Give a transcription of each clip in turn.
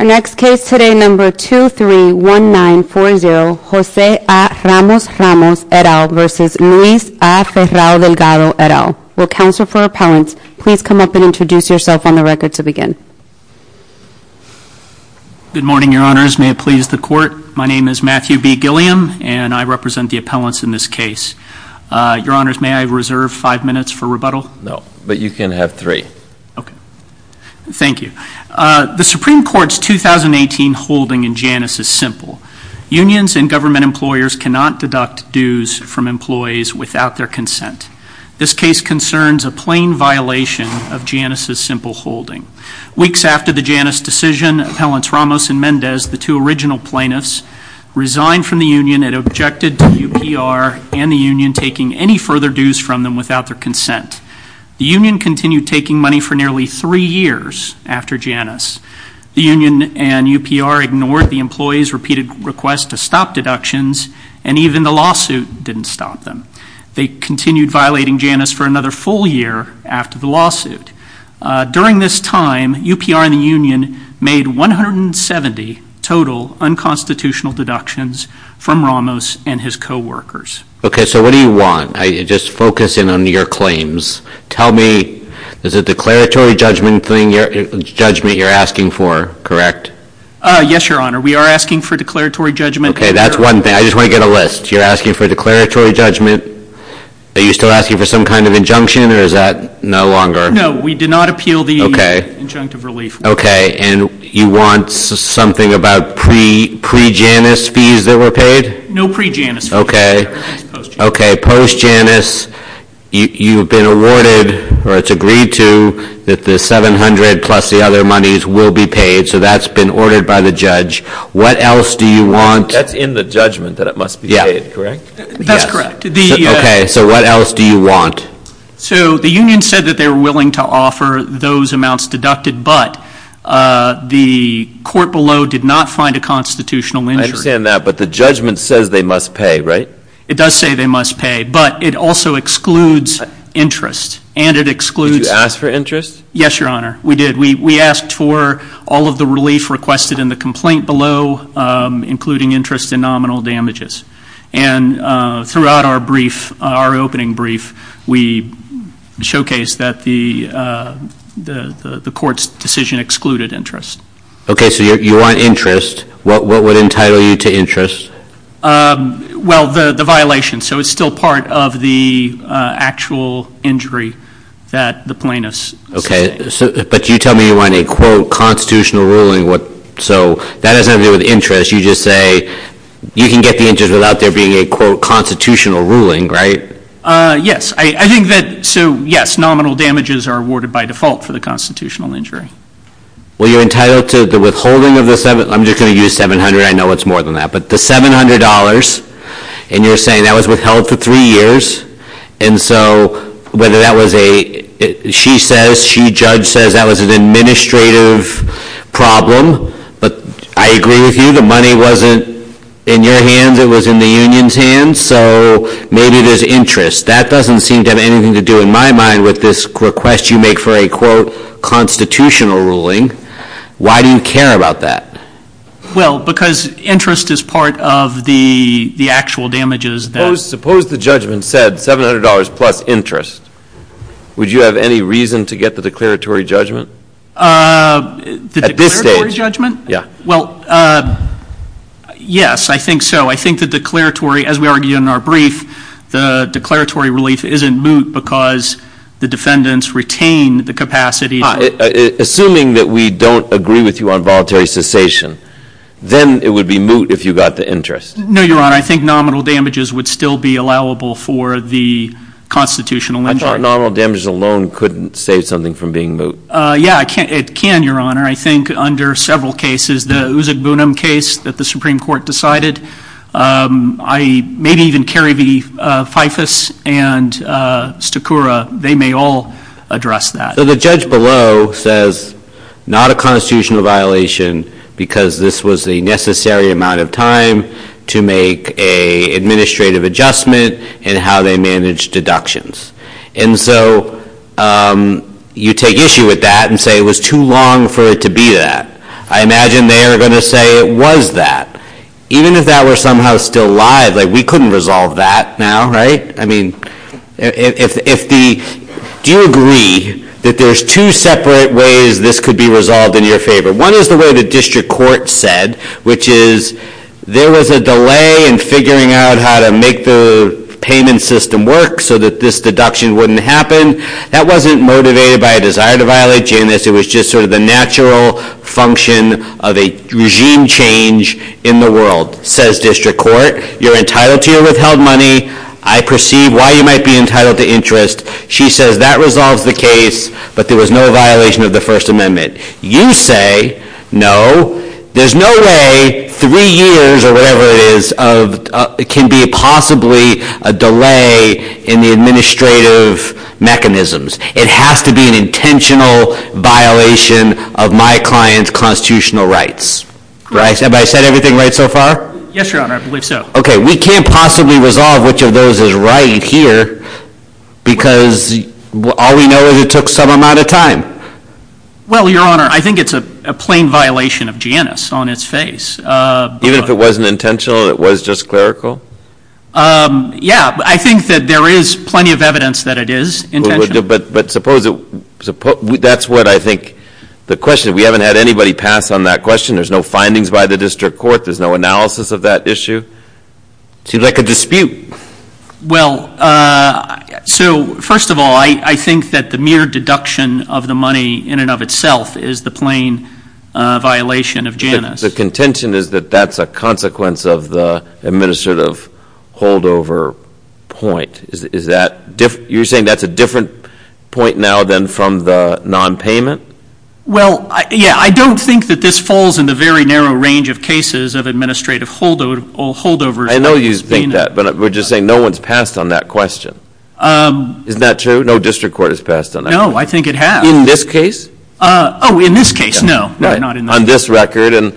Our next case today, number 231940, Jose A. Ramos Ramos, et al. v. Luis A. Ferrao Delgado, et al. Will counsel for appellants please come up and introduce yourself on the record to begin. Good morning, your honors. May it please the court. My name is Matthew B. Gilliam and I represent the appellants in this case. Your honors, may I reserve five minutes for rebuttal? No, but you can have three. Okay. Thank you. The Supreme Court's 2018 holding in Janus is simple. Unions and government employers cannot deduct dues from employees without their consent. This case concerns a plain violation of Janus's simple holding. Weeks after the Janus decision, Appellants Ramos and Mendez, the two original plaintiffs, resigned from the union and objected to WPR and the union taking any further dues from them without their consent. The union continued taking money for nearly three years after Janus. The union and WPR ignored the employees' repeated requests to stop deductions and even the lawsuit didn't stop them. They continued violating Janus for another full year after the lawsuit. During this time, WPR and the union made 170 total unconstitutional deductions from Ramos and his co-workers. Okay, so what do you want? Just focus in on your claims. Tell me, is it declaratory judgment you're asking for, correct? Yes, your honor, we are asking for declaratory judgment. Okay, that's one thing. I just want to get a list. You're asking for declaratory judgment, are you still asking for some kind of injunction or is that no longer? No, we do not appeal the injunctive relief. Okay, and you want something about pre-Janus fees that were paid? No pre-Janus fees. Okay. Okay, post-Janus, you've been awarded or it's agreed to that the 700 plus the other monies will be paid, so that's been ordered by the judge. What else do you want? That's in the judgment that it must be paid, correct? Yes. That's correct. Okay, so what else do you want? So the union said that they were willing to offer those amounts deducted, but the court below did not find a constitutional injury. I understand that, but the judgment says they must pay, right? It does say they must pay, but it also excludes interest, and it excludes... Did you ask for interest? Yes, your honor. We did. We asked for all of the relief requested in the complaint below, including interest and nominal damages. And throughout our brief, our opening brief, we showcased that the court's decision excluded interest. Okay, so you want interest. What would entitle you to interest? Well, the violation, so it's still part of the actual injury that the plaintiff sustained. Okay, but you tell me you want a, quote, constitutional ruling, so that has nothing to do with interest. You just say you can get the interest without there being a, quote, constitutional ruling, right? Yes. I think that, so yes, nominal damages are awarded by default for the constitutional injury. Well, you're entitled to the withholding of the 700. I'm just going to use 700. I know it's more than that, but the $700, and you're saying that was withheld for three years, and so whether that was a... She says, she, judge says that was an administrative problem, but I agree with you, the money wasn't in your hands. It was in the union's hands, so maybe there's interest. That doesn't seem to have anything to do, in my mind, with this request you make for a, quote, constitutional ruling. Why do you care about that? Well, because interest is part of the, the actual damages that... Suppose, suppose the judgment said $700 plus interest. Would you have any reason to get the declaratory judgment? Uh... At this stage? The declaratory judgment? Yeah. Well, uh, yes, I think so. I think the declaratory, as we argued in our brief, the declaratory relief isn't moot because the defendants retain the capacity... Assuming that we don't agree with you on voluntary cessation, then it would be moot if you got the interest. No, Your Honor, I think nominal damages would still be allowable for the constitutional injunction. I thought nominal damages alone couldn't save something from being moot. Uh, yeah, it can, Your Honor. I think under several cases, the Uzug Bunim case that the Supreme Court decided, um, I maybe even carry the, uh, FIFAS and, uh, Stakura. They may all address that. So the judge below says not a constitutional violation because this was the necessary amount of time to make a administrative adjustment and how they manage deductions. And so, um, you take issue with that and say it was too long for it to be that. I imagine they are going to say it was that. Even if that were somehow still live, like we couldn't resolve that now, right? I mean, if, if the, do you agree that there's two separate ways this could be resolved in your favor? One is the way the district court said, which is there was a delay in figuring out how to make the payment system work so that this deduction wouldn't happen. That wasn't motivated by a desire to violate Janus. It was just sort of the natural function of a regime change in the world, says district court. You're entitled to your withheld money. I perceive why you might be entitled to interest. She says that resolves the case, but there was no violation of the first amendment. You say no, there's no way three years or whatever it is of, uh, it can be possibly a delay in the administrative mechanisms. It has to be an intentional violation of my client's constitutional rights, right? Have I said everything right so far? Yes, your honor. I believe so. Okay. We can't possibly resolve which of those is right here because all we know is it took some amount of time. Well, your honor, I think it's a plain violation of Janus on its face. Uh, even if it wasn't intentional, it was just clerical. Um, yeah, I think that there is plenty of evidence that it is intentional. But suppose it, that's what I think the question, we haven't had anybody pass on that question. There's no findings by the district court. There's no analysis of that issue. It seems like a dispute. Well, uh, so first of all, I, I think that the mere deduction of the money in and of itself is the plain, uh, violation of Janus. The contention is that that's a consequence of the administrative holdover point. Is that, you're saying that's a different point now than from the nonpayment? Well, yeah, I don't think that this falls in the very narrow range of cases of administrative holdovers. I know you think that, but we're just saying no one's passed on that question. Um. Isn't that true? No district court has passed on that. No, I think it has. In this case? Uh, oh, in this case, no. Right. Not in this case. On this record and.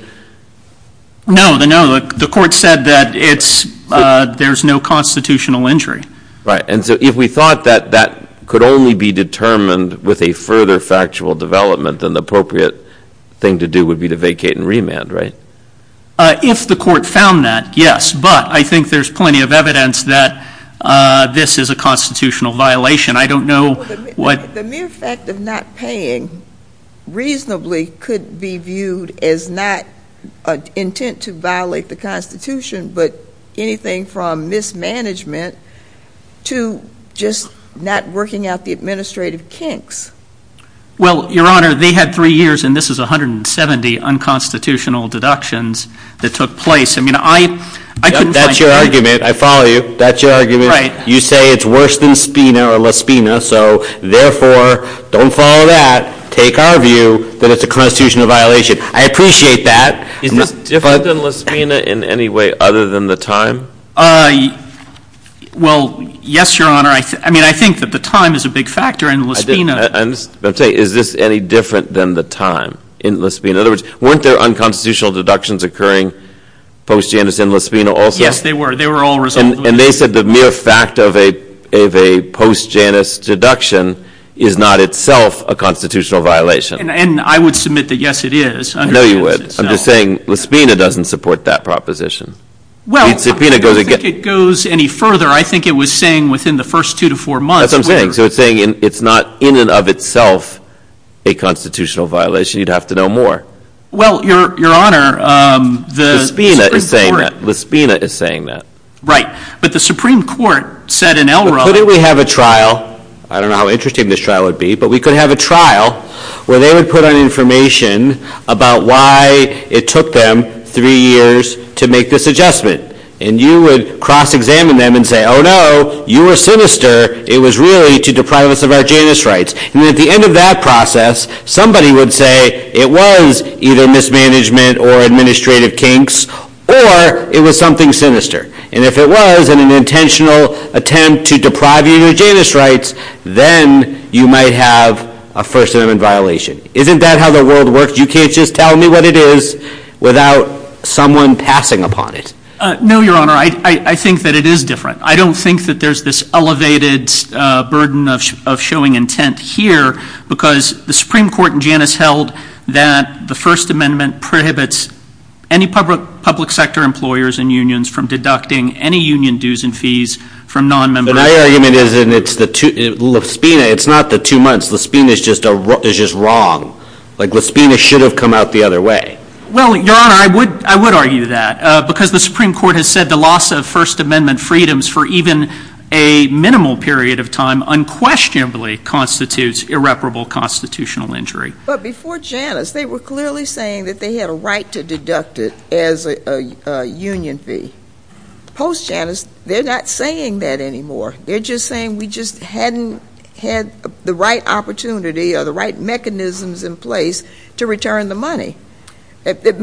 No, no, the court said that it's, uh, there's no constitutional injury. Right. And so if we thought that that could only be determined with a further factual development, then the appropriate thing to do would be to vacate and remand, right? Uh, if the court found that, yes, but I think there's plenty of evidence that, uh, this is a constitutional violation. I don't know what. Well, the mere fact of not paying reasonably could be viewed as not an intent to violate the Constitution, but anything from mismanagement to just not working out the administrative kinks. Well, Your Honor, they had three years, and this is 170 unconstitutional deductions that took place. I mean, I. That's your argument. I follow you. That's your argument. Right. You say it's worse than SPINA or LASPINA, so therefore, don't follow that. Take our view that it's a constitutional violation. I appreciate that. Is this different than LASPINA in any way other than the time? Uh, well, yes, Your Honor. I mean, I think that the time is a big factor in LASPINA. I'm saying, is this any different than the time in LASPINA? In other words, weren't there unconstitutional deductions occurring post-Janus in LASPINA also? Yes, they were. They were all resolved. And they said the mere fact of a post-Janus deduction is not itself a constitutional violation. And I would submit that, yes, it is. No, you would. I'm just saying, LASPINA doesn't support that proposition. Well, I don't think it goes any further. I think it was saying within the first two to four months. So it's saying it's not in and of itself a constitutional violation. You'd have to know more. Well, Your Honor, the Supreme Court— LASPINA is saying that. LASPINA is saying that. Right. But the Supreme Court said in Elrond— But couldn't we have a trial—I don't know how interesting this trial would be—but we could have a trial where they would put on information about why it took them three years to make this adjustment. And you would cross-examine them and say, oh, no, you were sinister. It was really to deprive us of our Janus rights. And at the end of that process, somebody would say it was either mismanagement or administrative kinks or it was something sinister. And if it was an intentional attempt to deprive you of your Janus rights, then you might have a First Amendment violation. Isn't that how the world works? You can't just tell me what it is without someone passing upon it. No, Your Honor. I think that it is different. I don't think that there's this elevated burden of showing intent here because the Supreme Court in Janus held that the First Amendment prohibits any public sector employers and unions from deducting any union dues and fees from nonmembership. But my argument is that it's not the two months. Lespina is just wrong. Like Lespina should have come out the other way. Well, Your Honor, I would argue that because the Supreme Court has said the loss of First Amendment freedoms for even a minimal period of time unquestionably constitutes irreparable constitutional injury. But before Janus, they were clearly saying that they had a right to deduct it as a union fee. Post-Janus, they're not saying that anymore. They're just saying we just hadn't had the right opportunity or the right mechanisms in place to return the money. That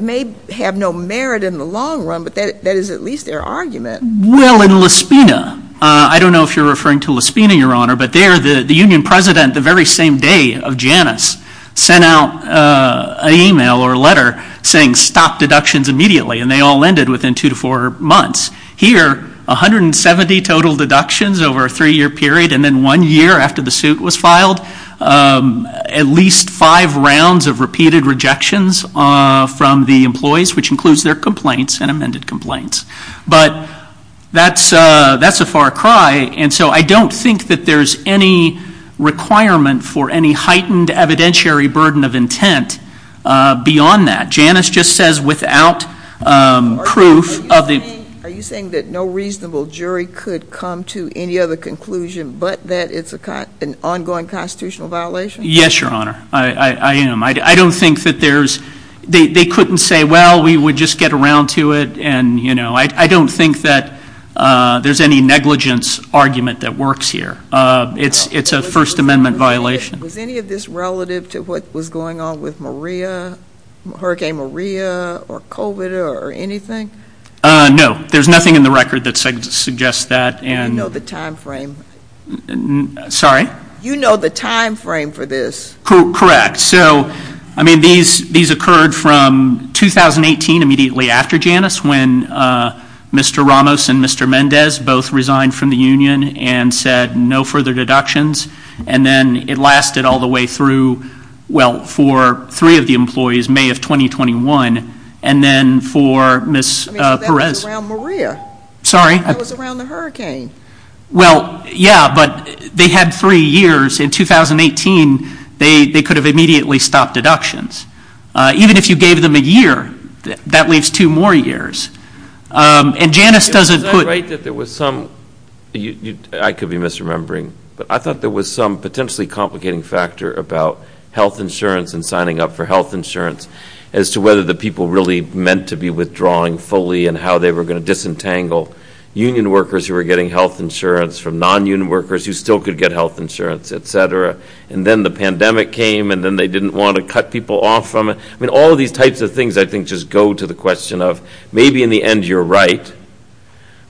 may have no merit in the long run, but that is at least their argument. Well, in Lespina, I don't know if you're referring to Lespina, Your Honor, but there the union president the very same day of Janus sent out an email or a letter saying stop deductions immediately and they all ended within two to four months. Here, 170 total deductions over a three-year period and then one year after the suit was filed, at least five rounds of repeated rejections from the employees, which includes their complaints and amended complaints. But that's a far cry and so I don't think that there's any requirement for any heightened evidentiary burden of intent beyond that. Janus just says without proof of the- Are you saying that no reasonable jury could come to any other conclusion but that it's an ongoing constitutional violation? Yes, Your Honor. I am. I don't think that there's, they couldn't say, well, we would just get around to it and I don't think that there's any negligence argument that works here. It's a First Amendment violation. Was any of this relative to what was going on with Maria, Hurricane Maria or COVID or anything? No, there's nothing in the record that suggests that. You know the time frame. Sorry? You know the time frame for this. Correct. So, I mean, these occurred from 2018, immediately after Janus when Mr. Ramos and Mr. Mendez both resigned from the union and said no further deductions and then it lasted all the way through, well, for three of the employees, May of 2021, and then for Ms. Perez- I mean, that was around Maria. Sorry? That was around the hurricane. Well, yeah, but they had three years. In 2018, they could have immediately stopped deductions. Even if you gave them a year, that leaves two more years. And Janus doesn't put- I could be misremembering, but I thought there was some potentially complicating factor about health insurance and signing up for health insurance as to whether the people really meant to be withdrawing fully and how they were going to disentangle union workers who were getting health insurance from non-union workers who still could get health insurance, et cetera. And then the pandemic came and then they didn't want to cut people off from it. I mean, all of these types of things, I think, just go to the question of maybe in the end you're right,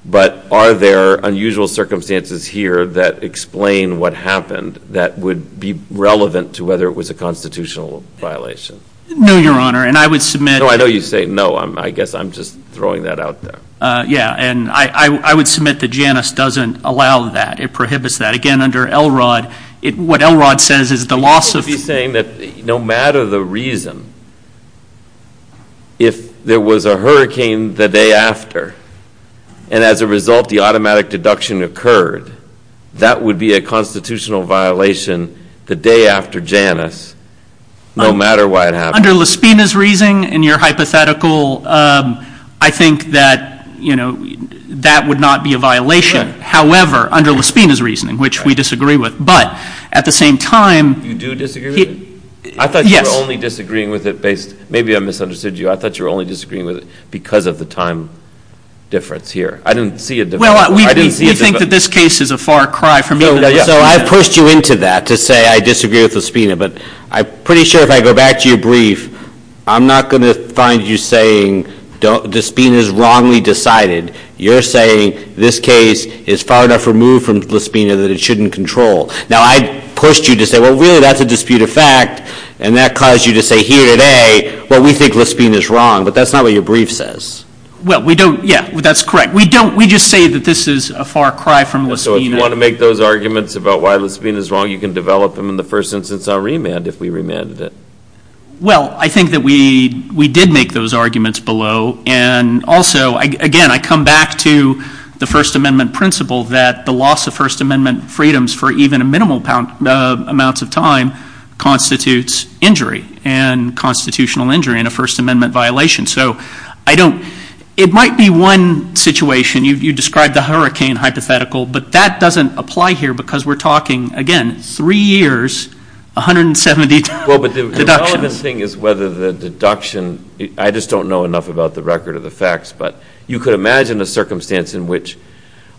but are there unusual circumstances here that explain what happened that would be relevant to whether it was a constitutional violation? No, Your Honor, and I would submit- No, I know you say no. I guess I'm just throwing that out there. Yeah, and I would submit that Janus doesn't allow that. It prohibits that. Again, under Elrod, what Elrod says is the loss of- If there was a hurricane the day after, and as a result the automatic deduction occurred, that would be a constitutional violation the day after Janus, no matter why it happened. Under LaSpina's reasoning, in your hypothetical, I think that that would not be a violation. However, under LaSpina's reasoning, which we disagree with, but at the same time- You do disagree with it? Yes. I thought you were only disagreeing with it based- maybe I misunderstood you. I thought you were only disagreeing with it because of the time difference here. I didn't see a difference. I didn't see a difference. Well, we think that this case is a far cry from either of them. So I pushed you into that to say I disagree with LaSpina, but I'm pretty sure if I go back to your brief, I'm not going to find you saying LaSpina's wrongly decided. You're saying this case is far enough removed from LaSpina that it shouldn't control. Now I pushed you to say, well really that's a disputed fact, and that caused you to say here today, well, we think LaSpina's wrong, but that's not what your brief says. Well, we don't- yeah, that's correct. We don't- we just say that this is a far cry from LaSpina. So if you want to make those arguments about why LaSpina's wrong, you can develop them in the first instance I'll remand if we remanded it. Well, I think that we did make those arguments below, and also, again, I come back to the First Amendment principle that the loss of First Amendment freedoms for even minimal amounts of time constitutes injury and constitutional injury in a First Amendment violation. So I don't- it might be one situation. You described the hurricane hypothetical, but that doesn't apply here because we're talking, again, three years, 170 deductions. Well, but the relevant thing is whether the deduction- I just don't know enough about the record of the facts, but you could imagine a circumstance in which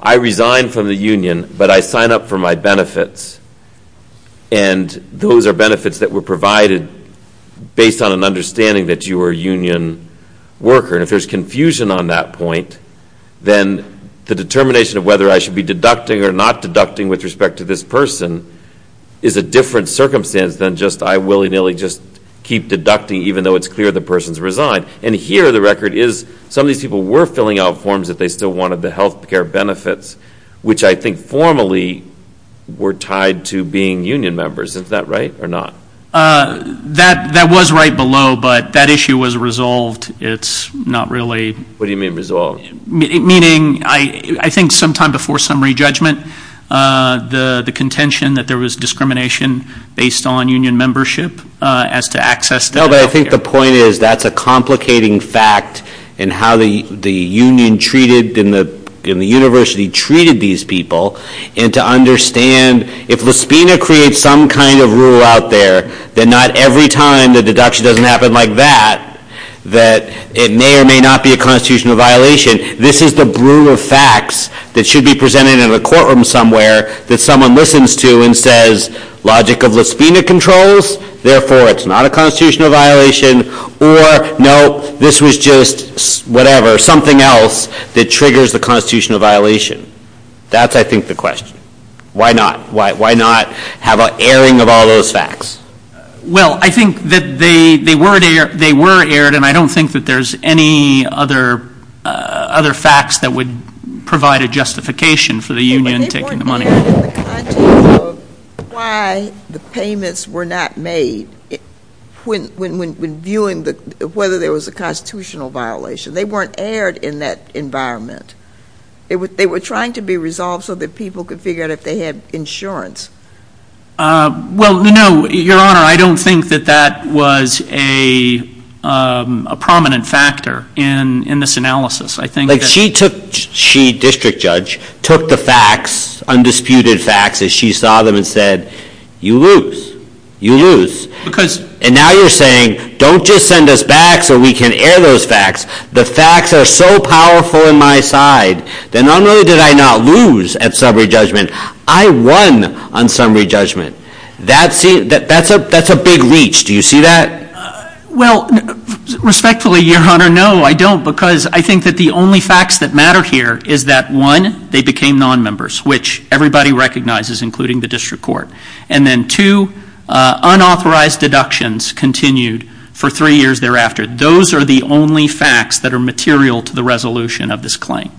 I resign from the union, but I sign up for my benefits, and those are benefits that were provided based on an understanding that you are a union worker, and if there's confusion on that point, then the determination of whether I should be deducting or not deducting with respect to this person is a different circumstance than just I willy-nilly just keep deducting even though it's clear the person's resigned, and here the record is some of these people were filling out forms that they still wanted the health care benefits, which I think formally were tied to being union members. Is that right or not? That was right below, but that issue was resolved. It's not really- What do you mean resolved? Meaning, I think sometime before summary judgment, the contention that there was discrimination based on union membership as to access to health care. I think the point is that's a complicating fact in how the union treated and the university treated these people, and to understand if Lispina creates some kind of rule out there, then not every time the deduction doesn't happen like that, that it may or may not be a constitutional violation. This is the brew of facts that should be presented in a courtroom somewhere that someone listens to and says logic of Lispina controls, therefore it's not a constitutional violation, or no, this was just whatever, something else that triggers the constitutional violation. That's I think the question. Why not? Why not have an airing of all those facts? Well, I think that they were aired, and I don't think that there's any other facts that would provide a justification for the union taking the money. But they weren't aired in the context of why the payments were not made when viewing whether there was a constitutional violation. They weren't aired in that environment. They were trying to be resolved so that people could figure out if they had insurance. Well, no, Your Honor, I don't think that that was a prominent factor in this analysis. Like she took, she, District Judge, took the facts, undisputed facts, as she saw them and said, you lose, you lose. And now you're saying, don't just send us back so we can air those facts. The facts are so powerful in my side, then not only did I not lose at summary judgment, I won on summary judgment. That's a big reach. Do you see that? Well, respectfully, Your Honor, no, I don't. Because I think that the only facts that matter here is that, one, they became non-members, which everybody recognizes, including the District Court. And then two, unauthorized deductions continued for three years thereafter. Those are the only facts that are material to the resolution of this claim.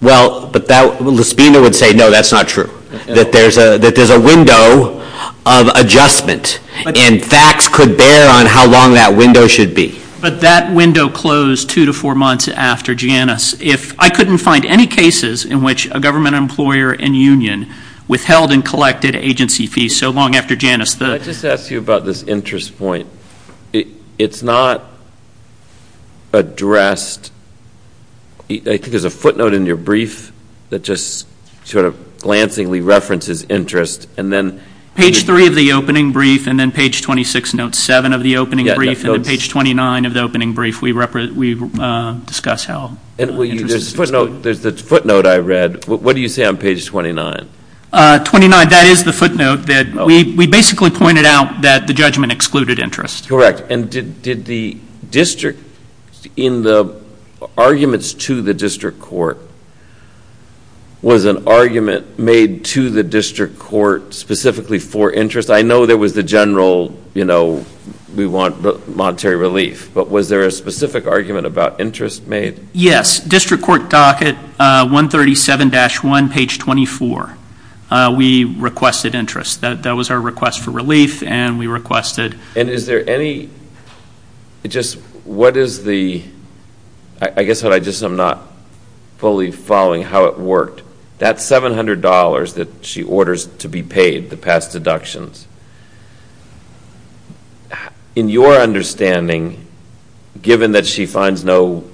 Well, but that, Lespina would say, no, that's not true. That there's a window of adjustment, and facts could bear on how long that window should be. But that window closed two to four months after Janus. If I couldn't find any cases in which a government employer and union withheld and collected agency fees so long after Janus, the- Let me just ask you about this interest point. It's not addressed, I think there's a footnote in your brief that just sort of glancingly references interest, and then- Page three of the opening brief, and then page 26, note seven of the opening brief, and then page 29 of the opening brief, we discuss how interest is excluded. There's the footnote I read. What do you say on page 29? 29, that is the footnote that we basically pointed out that the judgment excluded interest. Correct, and did the district, in the arguments to the district court, was an argument made to the district court specifically for interest? I know there was the general, we want the monetary relief, but was there a specific argument about interest made? Yes, district court docket 137-1, page 24. We requested interest, that was our request for relief, and we requested- And is there any, just what is the, I guess what I just, I'm not fully following how it worked. That $700 that she orders to be paid, the past deductions, in your understanding, given that she finds no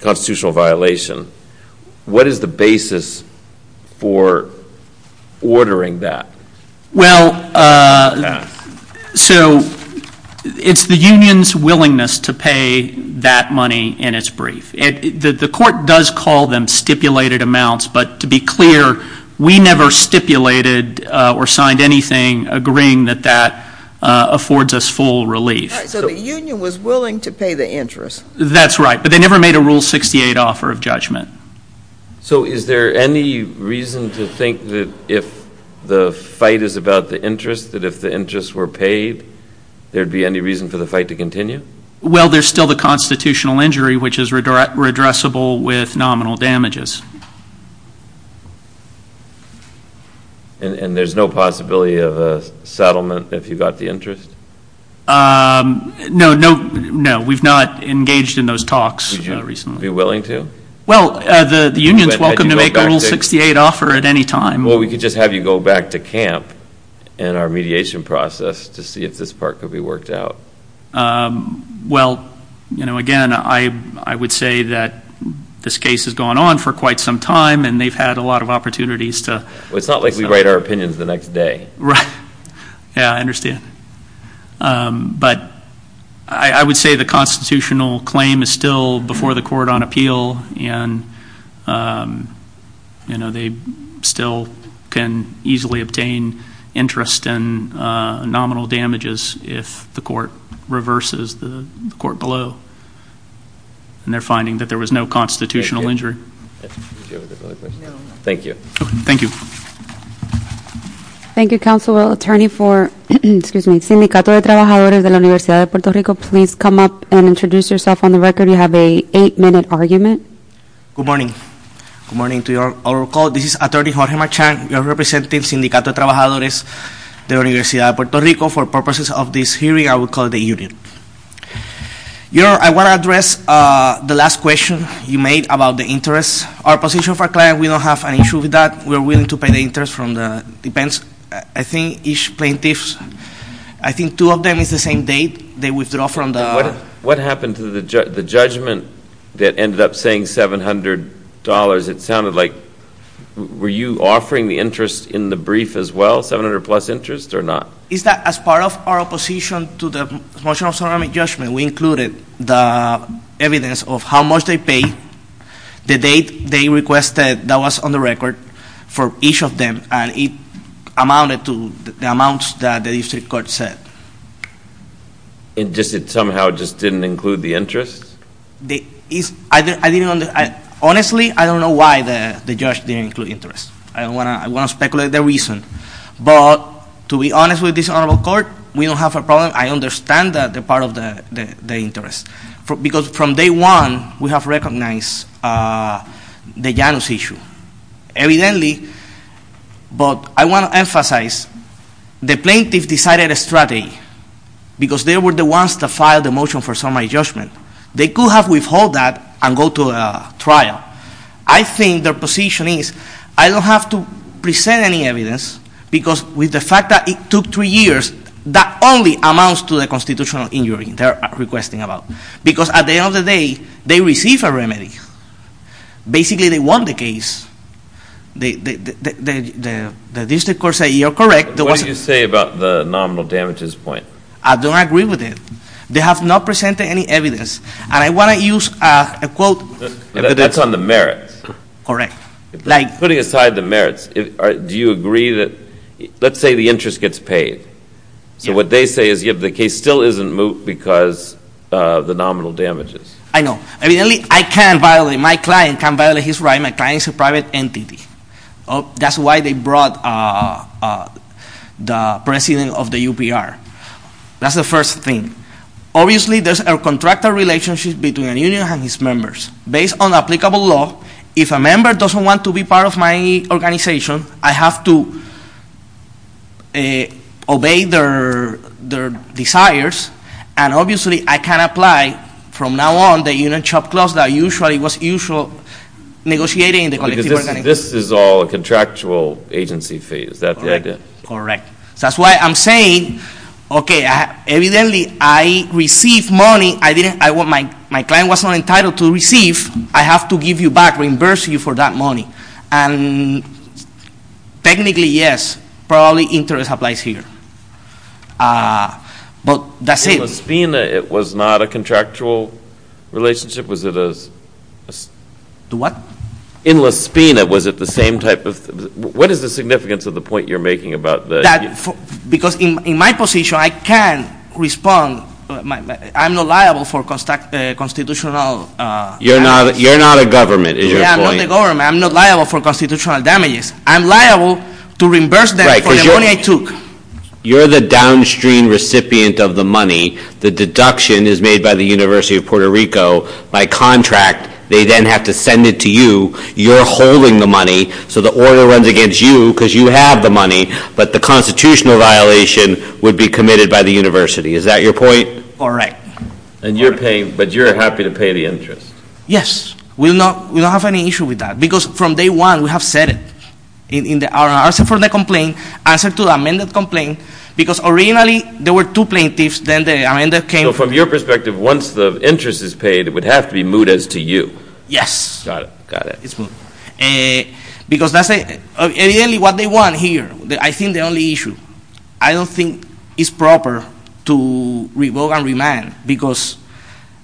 constitutional violation, what is the basis for ordering that? Well, so it's the union's willingness to pay that money in its brief. The court does call them stipulated amounts, but to be clear, we never stipulated or signed anything agreeing that that affords us full relief. So the union was willing to pay the interest. That's right, but they never made a rule 68 offer of judgment. So is there any reason to think that if the fight is about the interest, that if the interests were paid, there'd be any reason for the fight to continue? Well, there's still the constitutional injury, which is redressable with nominal damages. And there's no possibility of a settlement if you got the interest? No, no, no, we've not engaged in those talks recently. Would you be willing to? Well, the union's welcome to make a rule 68 offer at any time. Well, we could just have you go back to camp in our mediation process to see if this part could be worked out. Well, again, I would say that this case has gone on for quite some time, and they've had a lot of opportunities to- It's not like we write our opinions the next day. Right, yeah, I understand. But I would say the constitutional claim is still before the court on appeal, and they still can easily obtain interest and nominal damages if the court reverses the court below. And they're finding that there was no constitutional injury. Thank you. Thank you. Thank you. Council Attorney for, excuse me, Sindicato de Trabajadores de la Universidad de Puerto Rico, please come up and introduce yourself on the record. You have a eight minute argument. Good morning. Good morning to our call. This is Attorney Jorge Marchand. We are representing Sindicato de Trabajadores de la Universidad de Puerto Rico. For purposes of this hearing, I will call the union. I want to address the last question you made about the interest. Our position for client, we don't have an issue with that. We're willing to pay the interest from the, depends, I think each plaintiff's, I think two of them is the same date, they withdraw from the- What happened to the judgment that ended up saying $700? It sounded like, were you offering the interest in the brief as well, 700 plus interest or not? Is that as part of our opposition to the motion of solemn judgment, we included the evidence of how much they paid, the date they requested that was on the record for each of them. And it amounted to the amounts that the district court said. And just it somehow just didn't include the interest? Honestly, I don't know why the judge didn't include interest. I don't want to speculate the reason. But to be honest with this honorable court, we don't have a problem. I understand that they're part of the interest. Because from day one, we have recognized the Janus issue. Evidently, but I want to emphasize, the plaintiff decided a strategy. Because they were the ones that filed the motion for summary judgment. They could have withheld that and go to trial. I think their position is, I don't have to present any evidence, because with the fact that it took three years, that only amounts to the constitutional injury they're requesting about. Because at the end of the day, they received a remedy. Basically, they won the case. The district court said, you're correct. There was- What do you say about the nominal damages point? I don't agree with it. They have not presented any evidence. And I want to use a quote- That's on the merits. Correct. Like- Putting aside the merits, do you agree that, let's say the interest gets paid. So what they say is, the case still isn't moot because of the nominal damages. I know. Evidently, I can't violate, my client can't violate his right. My client is a private entity. That's why they brought the president of the UPR. That's the first thing. Obviously, there's a contractor relationship between a union and its members. Based on applicable law, if a member doesn't want to be part of my organization, I have to obey their desires. And obviously, I can't apply from now on the union shop clause that usually was usual negotiating the collective bargaining. This is all a contractual agency fee. Is that the idea? Correct. That's why I'm saying, okay, evidently, I received money. I didn't, my client was not entitled to receive. I have to give you back, reimburse you for that money. And technically, yes, probably interest applies here. But that's it. In La Spina, it was not a contractual relationship? Was it a? The what? In La Spina, was it the same type of, what is the significance of the point you're making about the? Because in my position, I can respond, I'm not liable for constitutional. You're not a government, is your point? I'm not a government, I'm not liable for constitutional damages. I'm liable to reimburse them for the money I took. You're the downstream recipient of the money. The deduction is made by the University of Puerto Rico. By contract, they then have to send it to you. You're holding the money, so the order runs against you because you have the money. But the constitutional violation would be committed by the university. Is that your point? Correct. And you're paying, but you're happy to pay the interest? Yes, we don't have any issue with that. Because from day one, we have said it in our answer for the complaint, answer to the amended complaint. Because originally, there were two plaintiffs, then the amended came. So from your perspective, once the interest is paid, it would have to be moot as to you. Yes. Got it, got it. It's moot. Because that's it. Ideally, what they want here, I think the only issue, I don't think it's proper to revoke and Because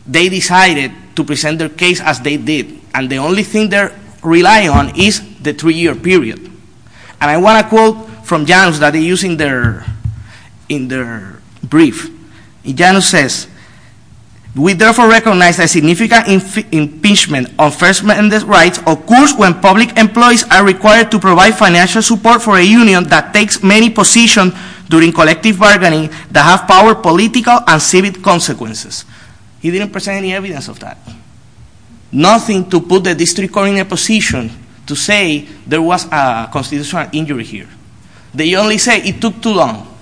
they decided to present their case as they did. And the only thing they're relying on is the three year period. And I want to quote from Janus that they use in their brief. Janus says, we therefore recognize that significant impingement on first amendment rights occurs when public employees are required to provide financial support for a union that takes many positions during collective bargaining that have power, political, and civic consequences. He didn't present any evidence of that. Nothing to put the district court in a position to say there was a constitutional injury here. They only say it took too long.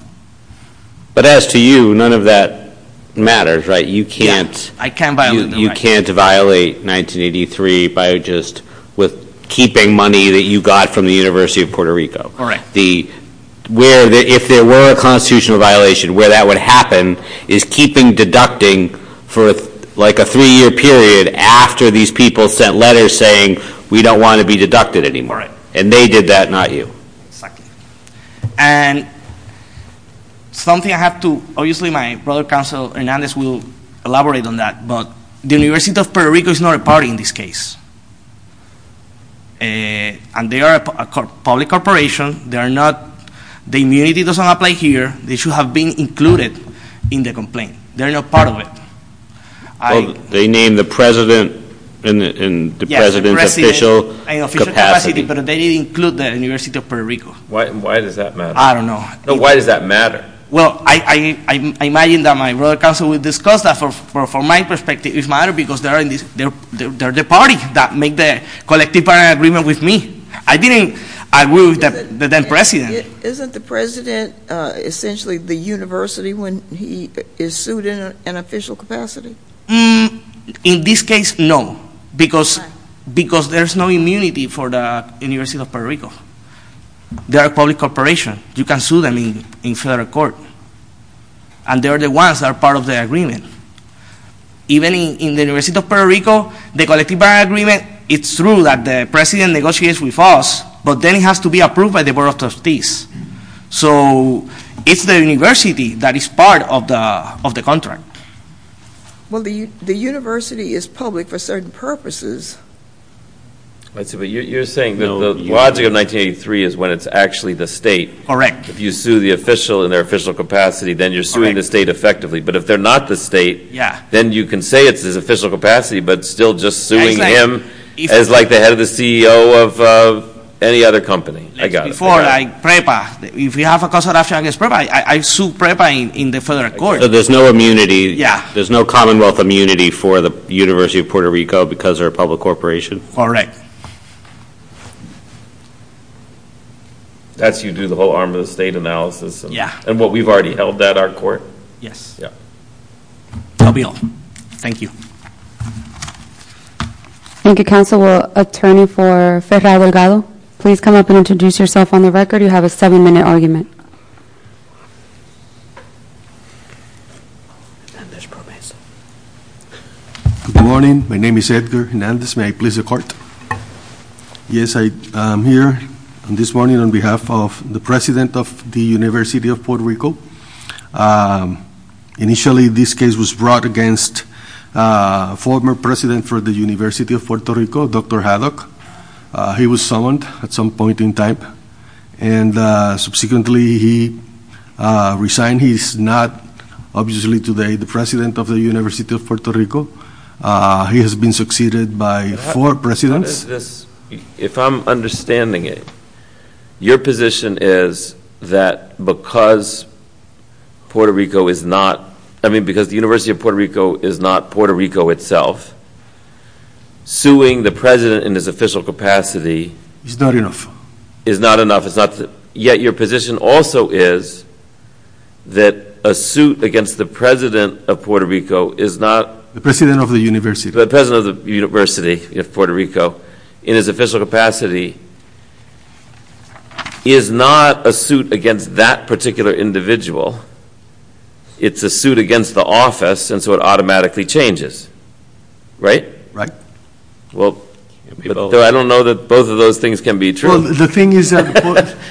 But as to you, none of that matters, right? You can't- I can't violate them. You can't violate 1983 by just with keeping money that you got from the University of Puerto Rico. Correct. Where, if there were a constitutional violation, where that would happen is keeping deducting for like a three year period after these people sent letters saying we don't want to be deducted anymore. And they did that, not you. Exactly. And something I have to, obviously my brother counsel Hernandez will elaborate on that, but the University of Puerto Rico is not a party in this case. And they are a public corporation. The immunity doesn't apply here. They should have been included in the complaint. They're not part of it. They named the president in the president's official capacity. But they didn't include the University of Puerto Rico. Why does that matter? I don't know. Why does that matter? Well, I imagine that my brother counsel will discuss that from my perspective. It matters because they're the party that made the collective agreement with me. I didn't agree with the then president. Isn't the president essentially the university when he is sued in an official capacity? In this case, no. Because there's no immunity for the University of Puerto Rico. They're a public corporation. You can sue them in federal court. And they're the ones that are part of the agreement. Even in the University of Puerto Rico, the collective agreement, it's true that the president negotiates with us. But then it has to be approved by the Board of Trustees. So it's the university that is part of the contract. Well, the university is public for certain purposes. But you're saying that the logic of 1983 is when it's actually the state. Correct. If you sue the official in their official capacity, then you're suing the state effectively. But if they're not the state, then you can say it's his official capacity, but it's still just suing him as like the head of the CEO of any other company. I got it. Before, like PREPA. If you have a consultation against PREPA, I sue PREPA in the federal court. So there's no immunity. Yeah. There's no commonwealth immunity for the University of Puerto Rico because they're a public corporation. Correct. That's you do the whole arm of the state analysis. Yeah. And what we've already held that our court. Yes. Yeah. That'll be all. Thank you. Thank you, Counselor. Attorney for Ferrado Delgado, please come up and introduce yourself on the record. You have a seven minute argument. Good morning. My name is Edgar Hernandez. May I please the court? Yes, I am here this morning on behalf of the President of the University of Puerto Rico. Initially, this case was brought against former president for the University of Puerto Rico, Dr. Haddock. He was summoned at some point in time. And subsequently, he resigned. He's not, obviously today, the president of the University of Puerto Rico. He has been succeeded by four presidents. If I'm understanding it, your position is that because the University of Puerto Rico is not Puerto Rico itself, suing the president in his official capacity- Is not enough. Is not enough. Yet your position also is that a suit against the president of Puerto Rico is not- The president of the university. University of Puerto Rico, in his official capacity, is not a suit against that particular individual. It's a suit against the office, and so it automatically changes, right? Right. Well, I don't know that both of those things can be true. The thing is that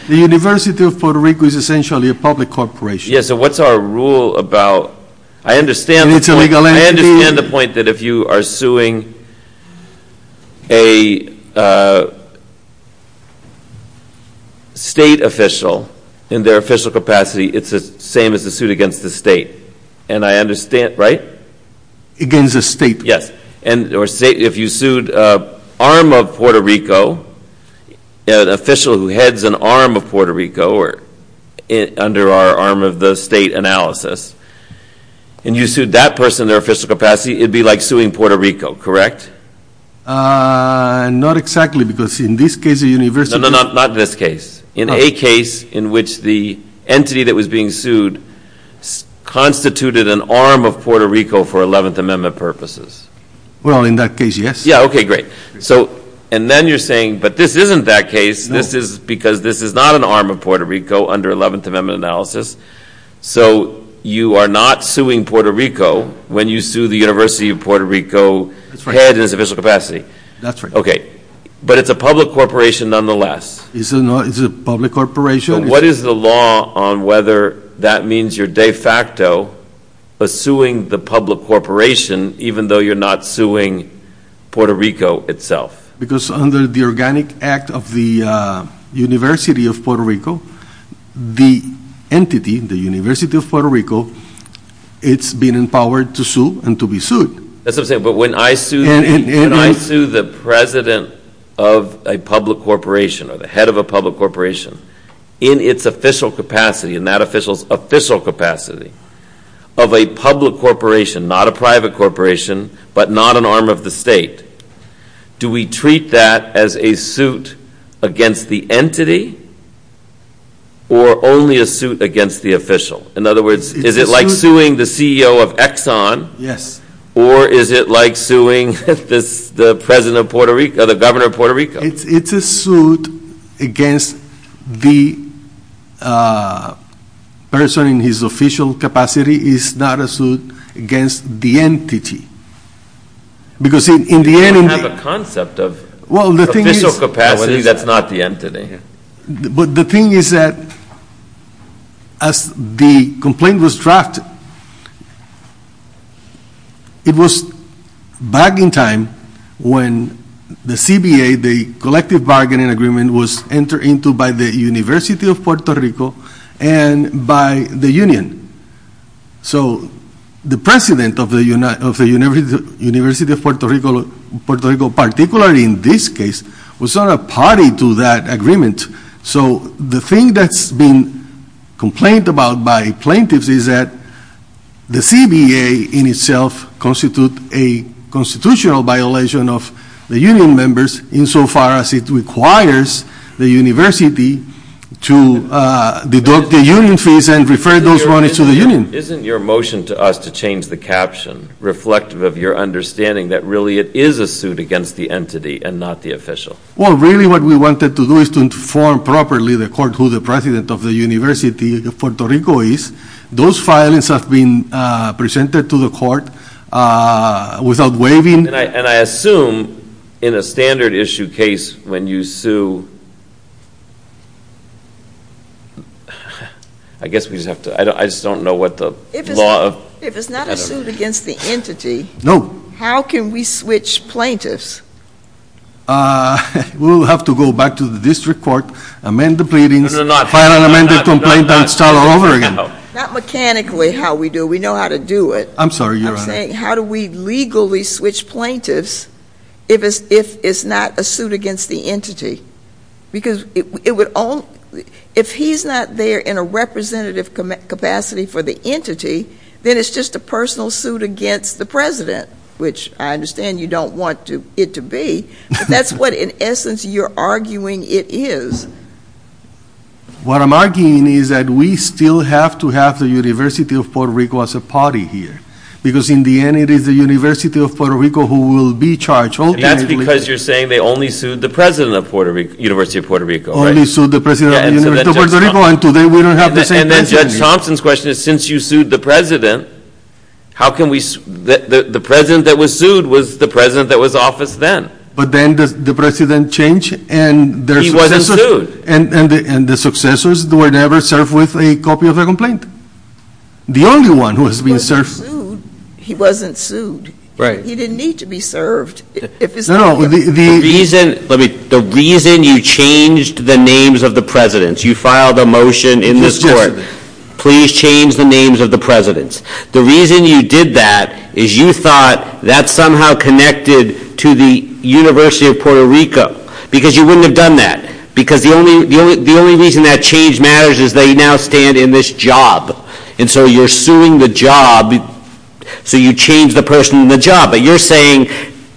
the University of Puerto Rico is essentially a public corporation. Yeah, so what's our rule about, I understand- It's a legal entity. I understand the point that if you are suing a state official in their official capacity, it's the same as a suit against the state. And I understand, right? Against the state. Yes. And if you sued an arm of Puerto Rico, an official who heads an arm of Puerto Rico, or under our arm of the state analysis. And you sued that person in their official capacity, it'd be like suing Puerto Rico, correct? Not exactly, because in this case, the university- No, no, not this case. In a case in which the entity that was being sued constituted an arm of Puerto Rico for 11th Amendment purposes. Well, in that case, yes. Yeah, okay, great. So, and then you're saying, but this isn't that case. This is because this is not an arm of Puerto Rico under 11th Amendment analysis. So, you are not suing Puerto Rico when you sue the University of Puerto Rico- That's right. Head in its official capacity. That's right. Okay. But it's a public corporation nonetheless. It's a public corporation. What is the law on whether that means you're de facto suing the public corporation, even though you're not suing Puerto Rico itself? Because under the organic act of the University of Puerto Rico, the entity, the University of Puerto Rico, it's been empowered to sue and to be sued. That's what I'm saying, but when I sue the president of a public corporation, or the head of a public corporation, in its official capacity, in that official's official capacity, of a public corporation, not a private corporation, but not an arm of the state, do we treat that as a suit against the entity, or only a suit against the official? In other words, is it like suing the CEO of Exxon? Yes. Or is it like suing the president of Puerto Rico, the governor of Puerto Rico? It's a suit against the person in his official capacity. It's not a suit against the entity. Because in the end, in the... You don't have a concept of official capacity that's not the entity. But the thing is that, as the complaint was drafted, it was back in time when the CBA, the Collective Bargaining Agreement, was entered into by the University of Puerto Rico and by the union. So, the president of the University of Puerto Rico, particularly in this case, was not a party to that agreement. So, the thing that's been complained about by plaintiffs is that the CBA in itself constitutes a constitutional violation of the union members, insofar as it requires the university to deduct the union fees and refer those monies to the union. Isn't your motion to us to change the caption reflective of your understanding that really it is a suit against the entity and not the official? Well, really what we wanted to do is to inform properly the court who the president of the University of Puerto Rico is. Those filings have been presented to the court without waiving... And I assume in a standard issue case when you sue, I guess we just have to, I just don't know what the law... If it's not a suit against the entity, how can we switch plaintiffs? We'll have to go back to the district court, amend the pleadings, file an amended complaint, and start all over again. Not mechanically how we do, we know how to do it. I'm sorry, Your Honor. I'm saying how do we legally switch plaintiffs if it's not a suit against the entity? Because if he's not there in a representative capacity for the entity, then it's just a personal suit against the president, which I understand you don't want it to be. That's what, in essence, you're arguing it is. What I'm arguing is that we still have to have the University of Puerto Rico as a party here. Because in the end, it is the University of Puerto Rico who will be charged ultimately. That's because you're saying they only sued the president of the University of Puerto Rico, right? Only sued the president of the University of Puerto Rico, and today we don't have the same president. And then Judge Thompson's question is, since you sued the president, how can we, the president that was sued was the president that was in office then. But then the president changed and their successors... And the successors were never served with a copy of the complaint. The only one who was being served... He wasn't sued. He didn't need to be served. The reason you changed the names of the presidents, you filed a motion in this court, please change the names of the presidents. The reason you did that is you thought that somehow connected to the University of Puerto Rico. Because you wouldn't have done that. Because the only reason that change matters is they now stand in this job. And so you're suing the job, so you change the person in the job. But you're saying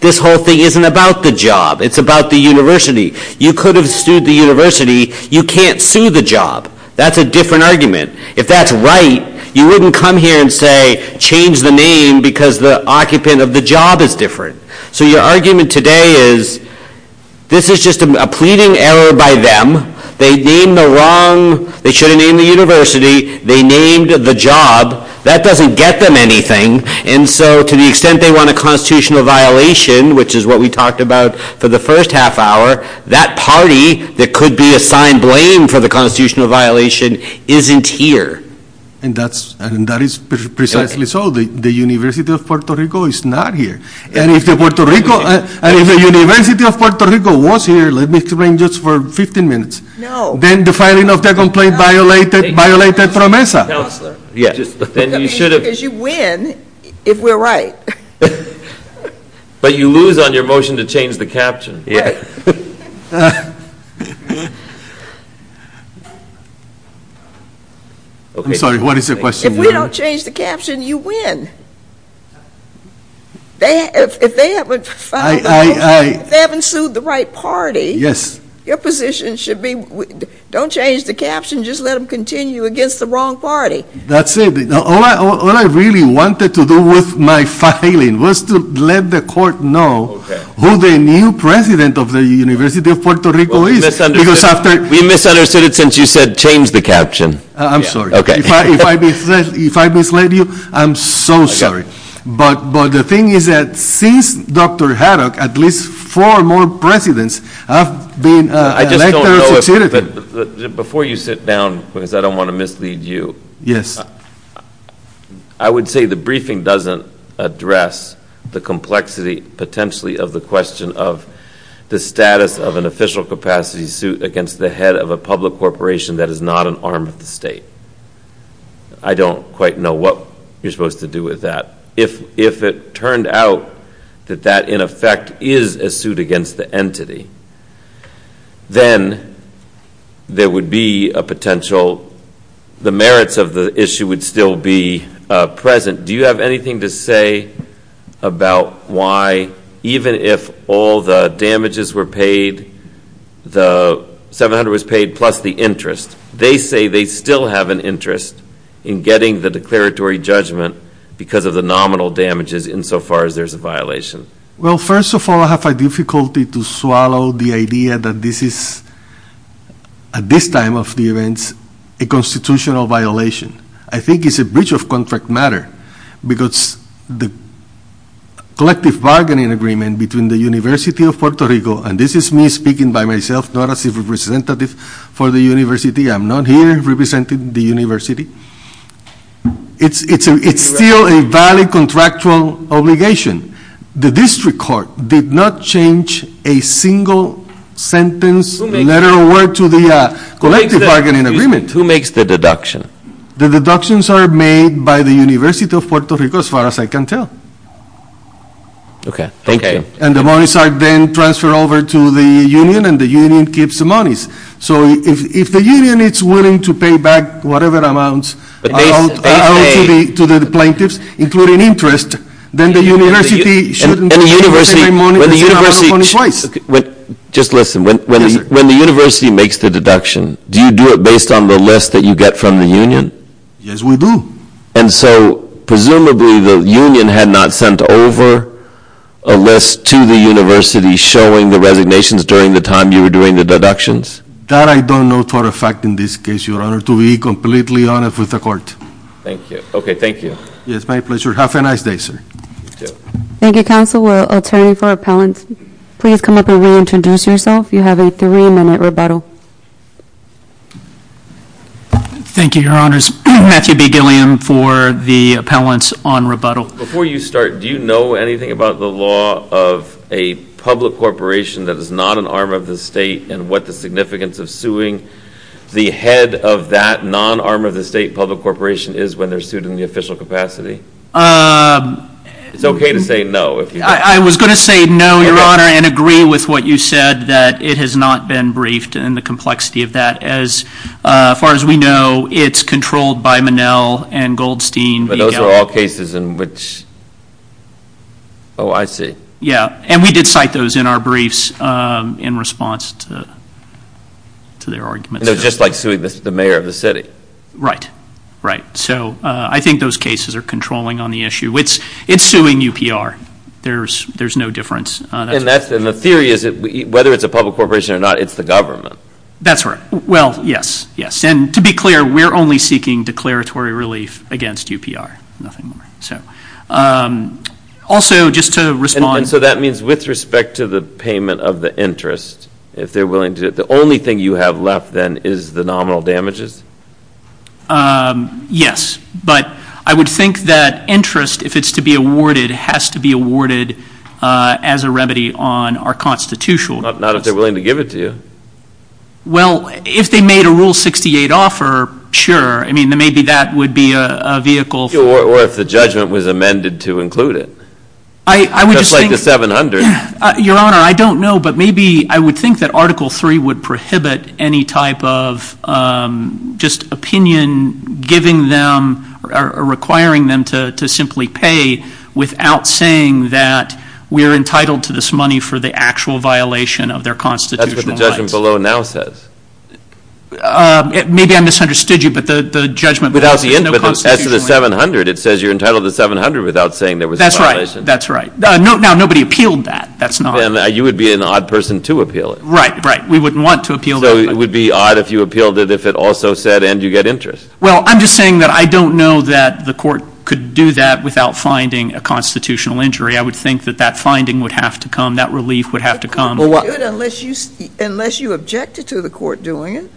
this whole thing isn't about the job, it's about the university. You could have sued the university, you can't sue the job. That's a different argument. If that's right, you wouldn't come here and say, change the name because the occupant of the job is different. So your argument today is this is just a pleading error by them. They named the wrong... They should have named the university, they named the job. That doesn't get them anything. And so to the extent they want a constitutional violation, which is what we talked about for the first half hour, that party that could be assigned blame for the constitutional violation isn't here. And that is precisely so. The University of Puerto Rico is not here. And if the University of Puerto Rico was here, let me explain just for 15 minutes. No. Then the filing of the complaint violated PROMESA. Counselor. Then you should have... Because you win if we're right. But you lose on your motion to change the caption. Right. I'm sorry, what is the question? If we don't change the caption, you win. If they haven't sued the right party, your position should be don't change the caption, just let them continue against the wrong party. That's it. All I really wanted to do with my filing was to let the court know who the new president of the University of Puerto Rico is. We misunderstood it since you said change the caption. I'm sorry. Okay. If I misled you, I'm so sorry. But the thing is that since Dr. Haddock, at least four more presidents have been elected or succeeded. Before you sit down, because I don't want to mislead you. Yes. I would say the briefing doesn't address the complexity, potentially, of the question of the status of an official capacity suit against the head of a public corporation that is not an arm of the state. I don't quite know what you're supposed to do with that. If it turned out that that, in effect, is a suit against the entity, then there would be a potential... The merits of the issue would still be present. Do you have anything to say about why, even if all the damages were paid, the 700 was paid plus the interest, they say they still have an interest in getting the declaratory judgment because of the nominal damages insofar as there's a violation? Well, first of all, I have difficulty to swallow the idea that this is, at this time of the events, a constitutional violation. I think it's a breach of contract matter because the collective bargaining agreement between the University of Puerto Rico, and this is me speaking by myself, not as a representative for the university. I'm not here representing the university. It's still a valid contractual obligation. The district court did not change a single sentence, letter of word to the collective bargaining agreement. Who makes the deduction? The deductions are made by the University of Puerto Rico, as far as I can tell. Okay, thank you. And the monies are then transferred over to the union, and the union keeps the monies. So if the union is willing to pay back whatever amounts are owed to the plaintiffs, including interest, then the university shouldn't... Just listen. When the university makes the deduction, do you do it based on the list that you get from the union? Yes, we do. And so presumably the union had not sent over a list to the university showing the resignations during the time you were doing the deductions? That I don't know for a fact in this case, Your Honor, to be completely honest with the court. Thank you. Okay, thank you. Yes, my pleasure. Have a nice day, sir. Thank you, counsel. We'll turn for appellants. Please come up and reintroduce yourself. You have a three-minute rebuttal. Thank you, Your Honors. Matthew B. Gilliam for the appellants on rebuttal. Before you start, do you know anything about the law of a public corporation that is not an arm of the state and what the significance of suing the head of that non-arm of the state public corporation is when they're sued in the official capacity? It's okay to say no. I was going to say no, Your Honor, and agree with what you said that it has not been briefed and the complexity of that. As far as we know, it's controlled by Monell and Goldstein. But those are all cases in which – oh, I see. Yeah, and we did cite those in our briefs in response to their arguments. And they're just like suing the mayor of the city. Right, right. So I think those cases are controlling on the issue. It's suing UPR. There's no difference. And the theory is that whether it's a public corporation or not, it's the government. That's right. Well, yes, yes. And to be clear, we're only seeking declaratory relief against UPR. Nothing more. So also just to respond – And so that means with respect to the payment of the interest, if they're willing to – The only thing you have left then is the nominal damages? Yes. But I would think that interest, if it's to be awarded, has to be awarded as a remedy on our constitutional – Not if they're willing to give it to you. Well, if they made a Rule 68 offer, sure. I mean, maybe that would be a vehicle for – Or if the judgment was amended to include it. I would just think – Just like the 700. Your Honor, I don't know, but maybe I would think that Article 3 would prohibit any type of just opinion giving them or requiring them to simply pay without saying that we're entitled to this money for the actual violation of their constitutional rights. That's what the judgment below now says. Maybe I misunderstood you, but the judgment – As to the 700, it says you're entitled to 700 without saying there was a violation. That's right. That's right. Now, nobody appealed that. That's not – Then you would be an odd person to appeal it. Right, right. We wouldn't want to appeal that. So it would be odd if you appealed it if it also said, and you get interest. Well, I'm just saying that I don't know that the Court could do that without finding a constitutional injury. I would think that that finding would have to come, that relief would have to come. Unless you objected to the Court doing it,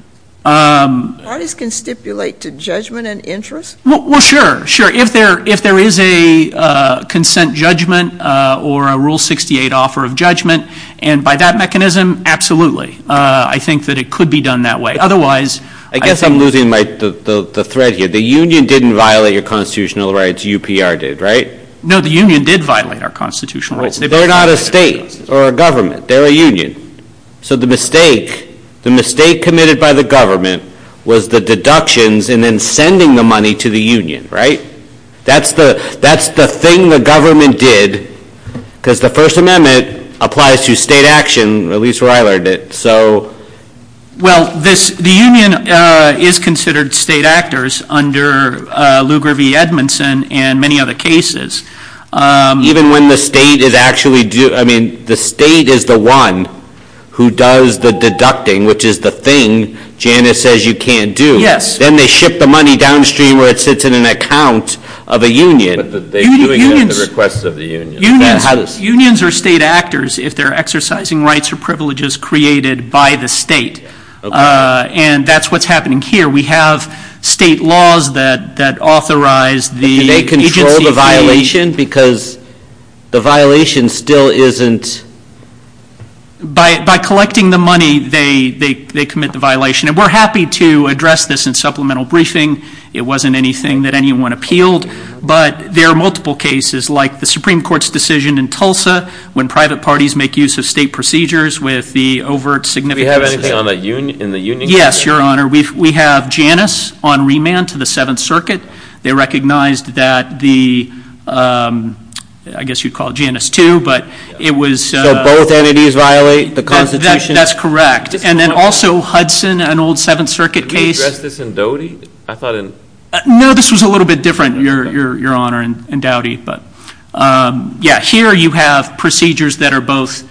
parties can stipulate to judgment and interest. Well, sure, sure. If there is a consent judgment or a Rule 68 offer of judgment, and by that mechanism, absolutely. I think that it could be done that way. Otherwise – I guess I'm losing the thread here. The union didn't violate your constitutional rights. UPR did, right? No, the union did violate our constitutional rights. They're not a state or a government. They're a union. So the mistake committed by the government was the deductions and then sending the money to the union, right? That's the thing the government did because the First Amendment applies to state action, at least where I learned it. Well, the union is considered state actors under Lugar v. Edmondson and many other cases. Even when the state is actually – I mean, the state is the one who does the deducting, which is the thing Janice says you can't do. Yes. Then they ship the money downstream where it sits in an account of a union. But they're doing it at the request of the union. Unions are state actors if they're exercising rights or privileges created by the state, and that's what's happening here. We have state laws that authorize the agency – And they control the violation because the violation still isn't – By collecting the money, they commit the violation. And we're happy to address this in supplemental briefing. It wasn't anything that anyone appealed. But there are multiple cases like the Supreme Court's decision in Tulsa when private parties make use of state procedures with the overt significance – Do we have anything in the union case? Yes, Your Honor. We have Janice on remand to the Seventh Circuit. They recognized that the – I guess you'd call it Janice 2, but it was – So both entities violate the Constitution? That's correct. And then also Hudson, an old Seventh Circuit case – Did we address this in Doughty? I thought in – No, this was a little bit different, Your Honor, in Doughty. Yeah, here you have procedures that are both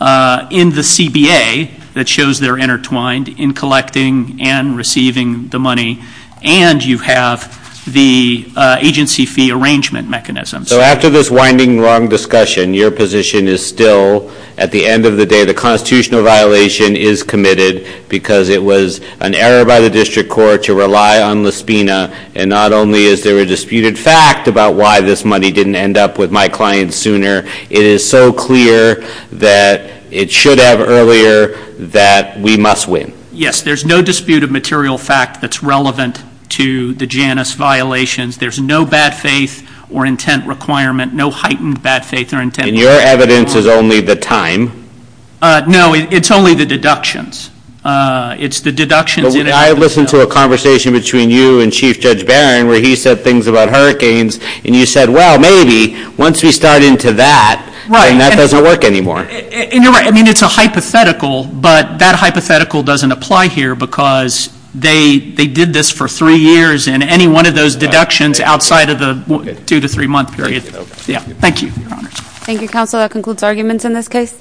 in the CBA that shows they're intertwined in collecting and receiving the money, and you have the agency fee arrangement mechanisms. So after this winding, long discussion, your position is still, at the end of the day, the constitutional violation is committed because it was an error by the district court to rely on Lispina, and not only is there a disputed fact about why this money didn't end up with my client sooner, it is so clear that it should have earlier, that we must win. Yes, there's no disputed material fact that's relevant to the Janice violations. There's no bad faith or intent requirement, no heightened bad faith or intent requirement. And your evidence is only the time? No, it's only the deductions. It's the deductions – I mean, I listened to a conversation between you and Chief Judge Barron where he said things about hurricanes, and you said, well, maybe once we start into that, then that doesn't work anymore. And you're right. I mean, it's a hypothetical, but that hypothetical doesn't apply here because they did this for three years, and any one of those deductions outside of the two- to three-month period – Thank you, Your Honors. Thank you, Counsel. That concludes arguments in this case.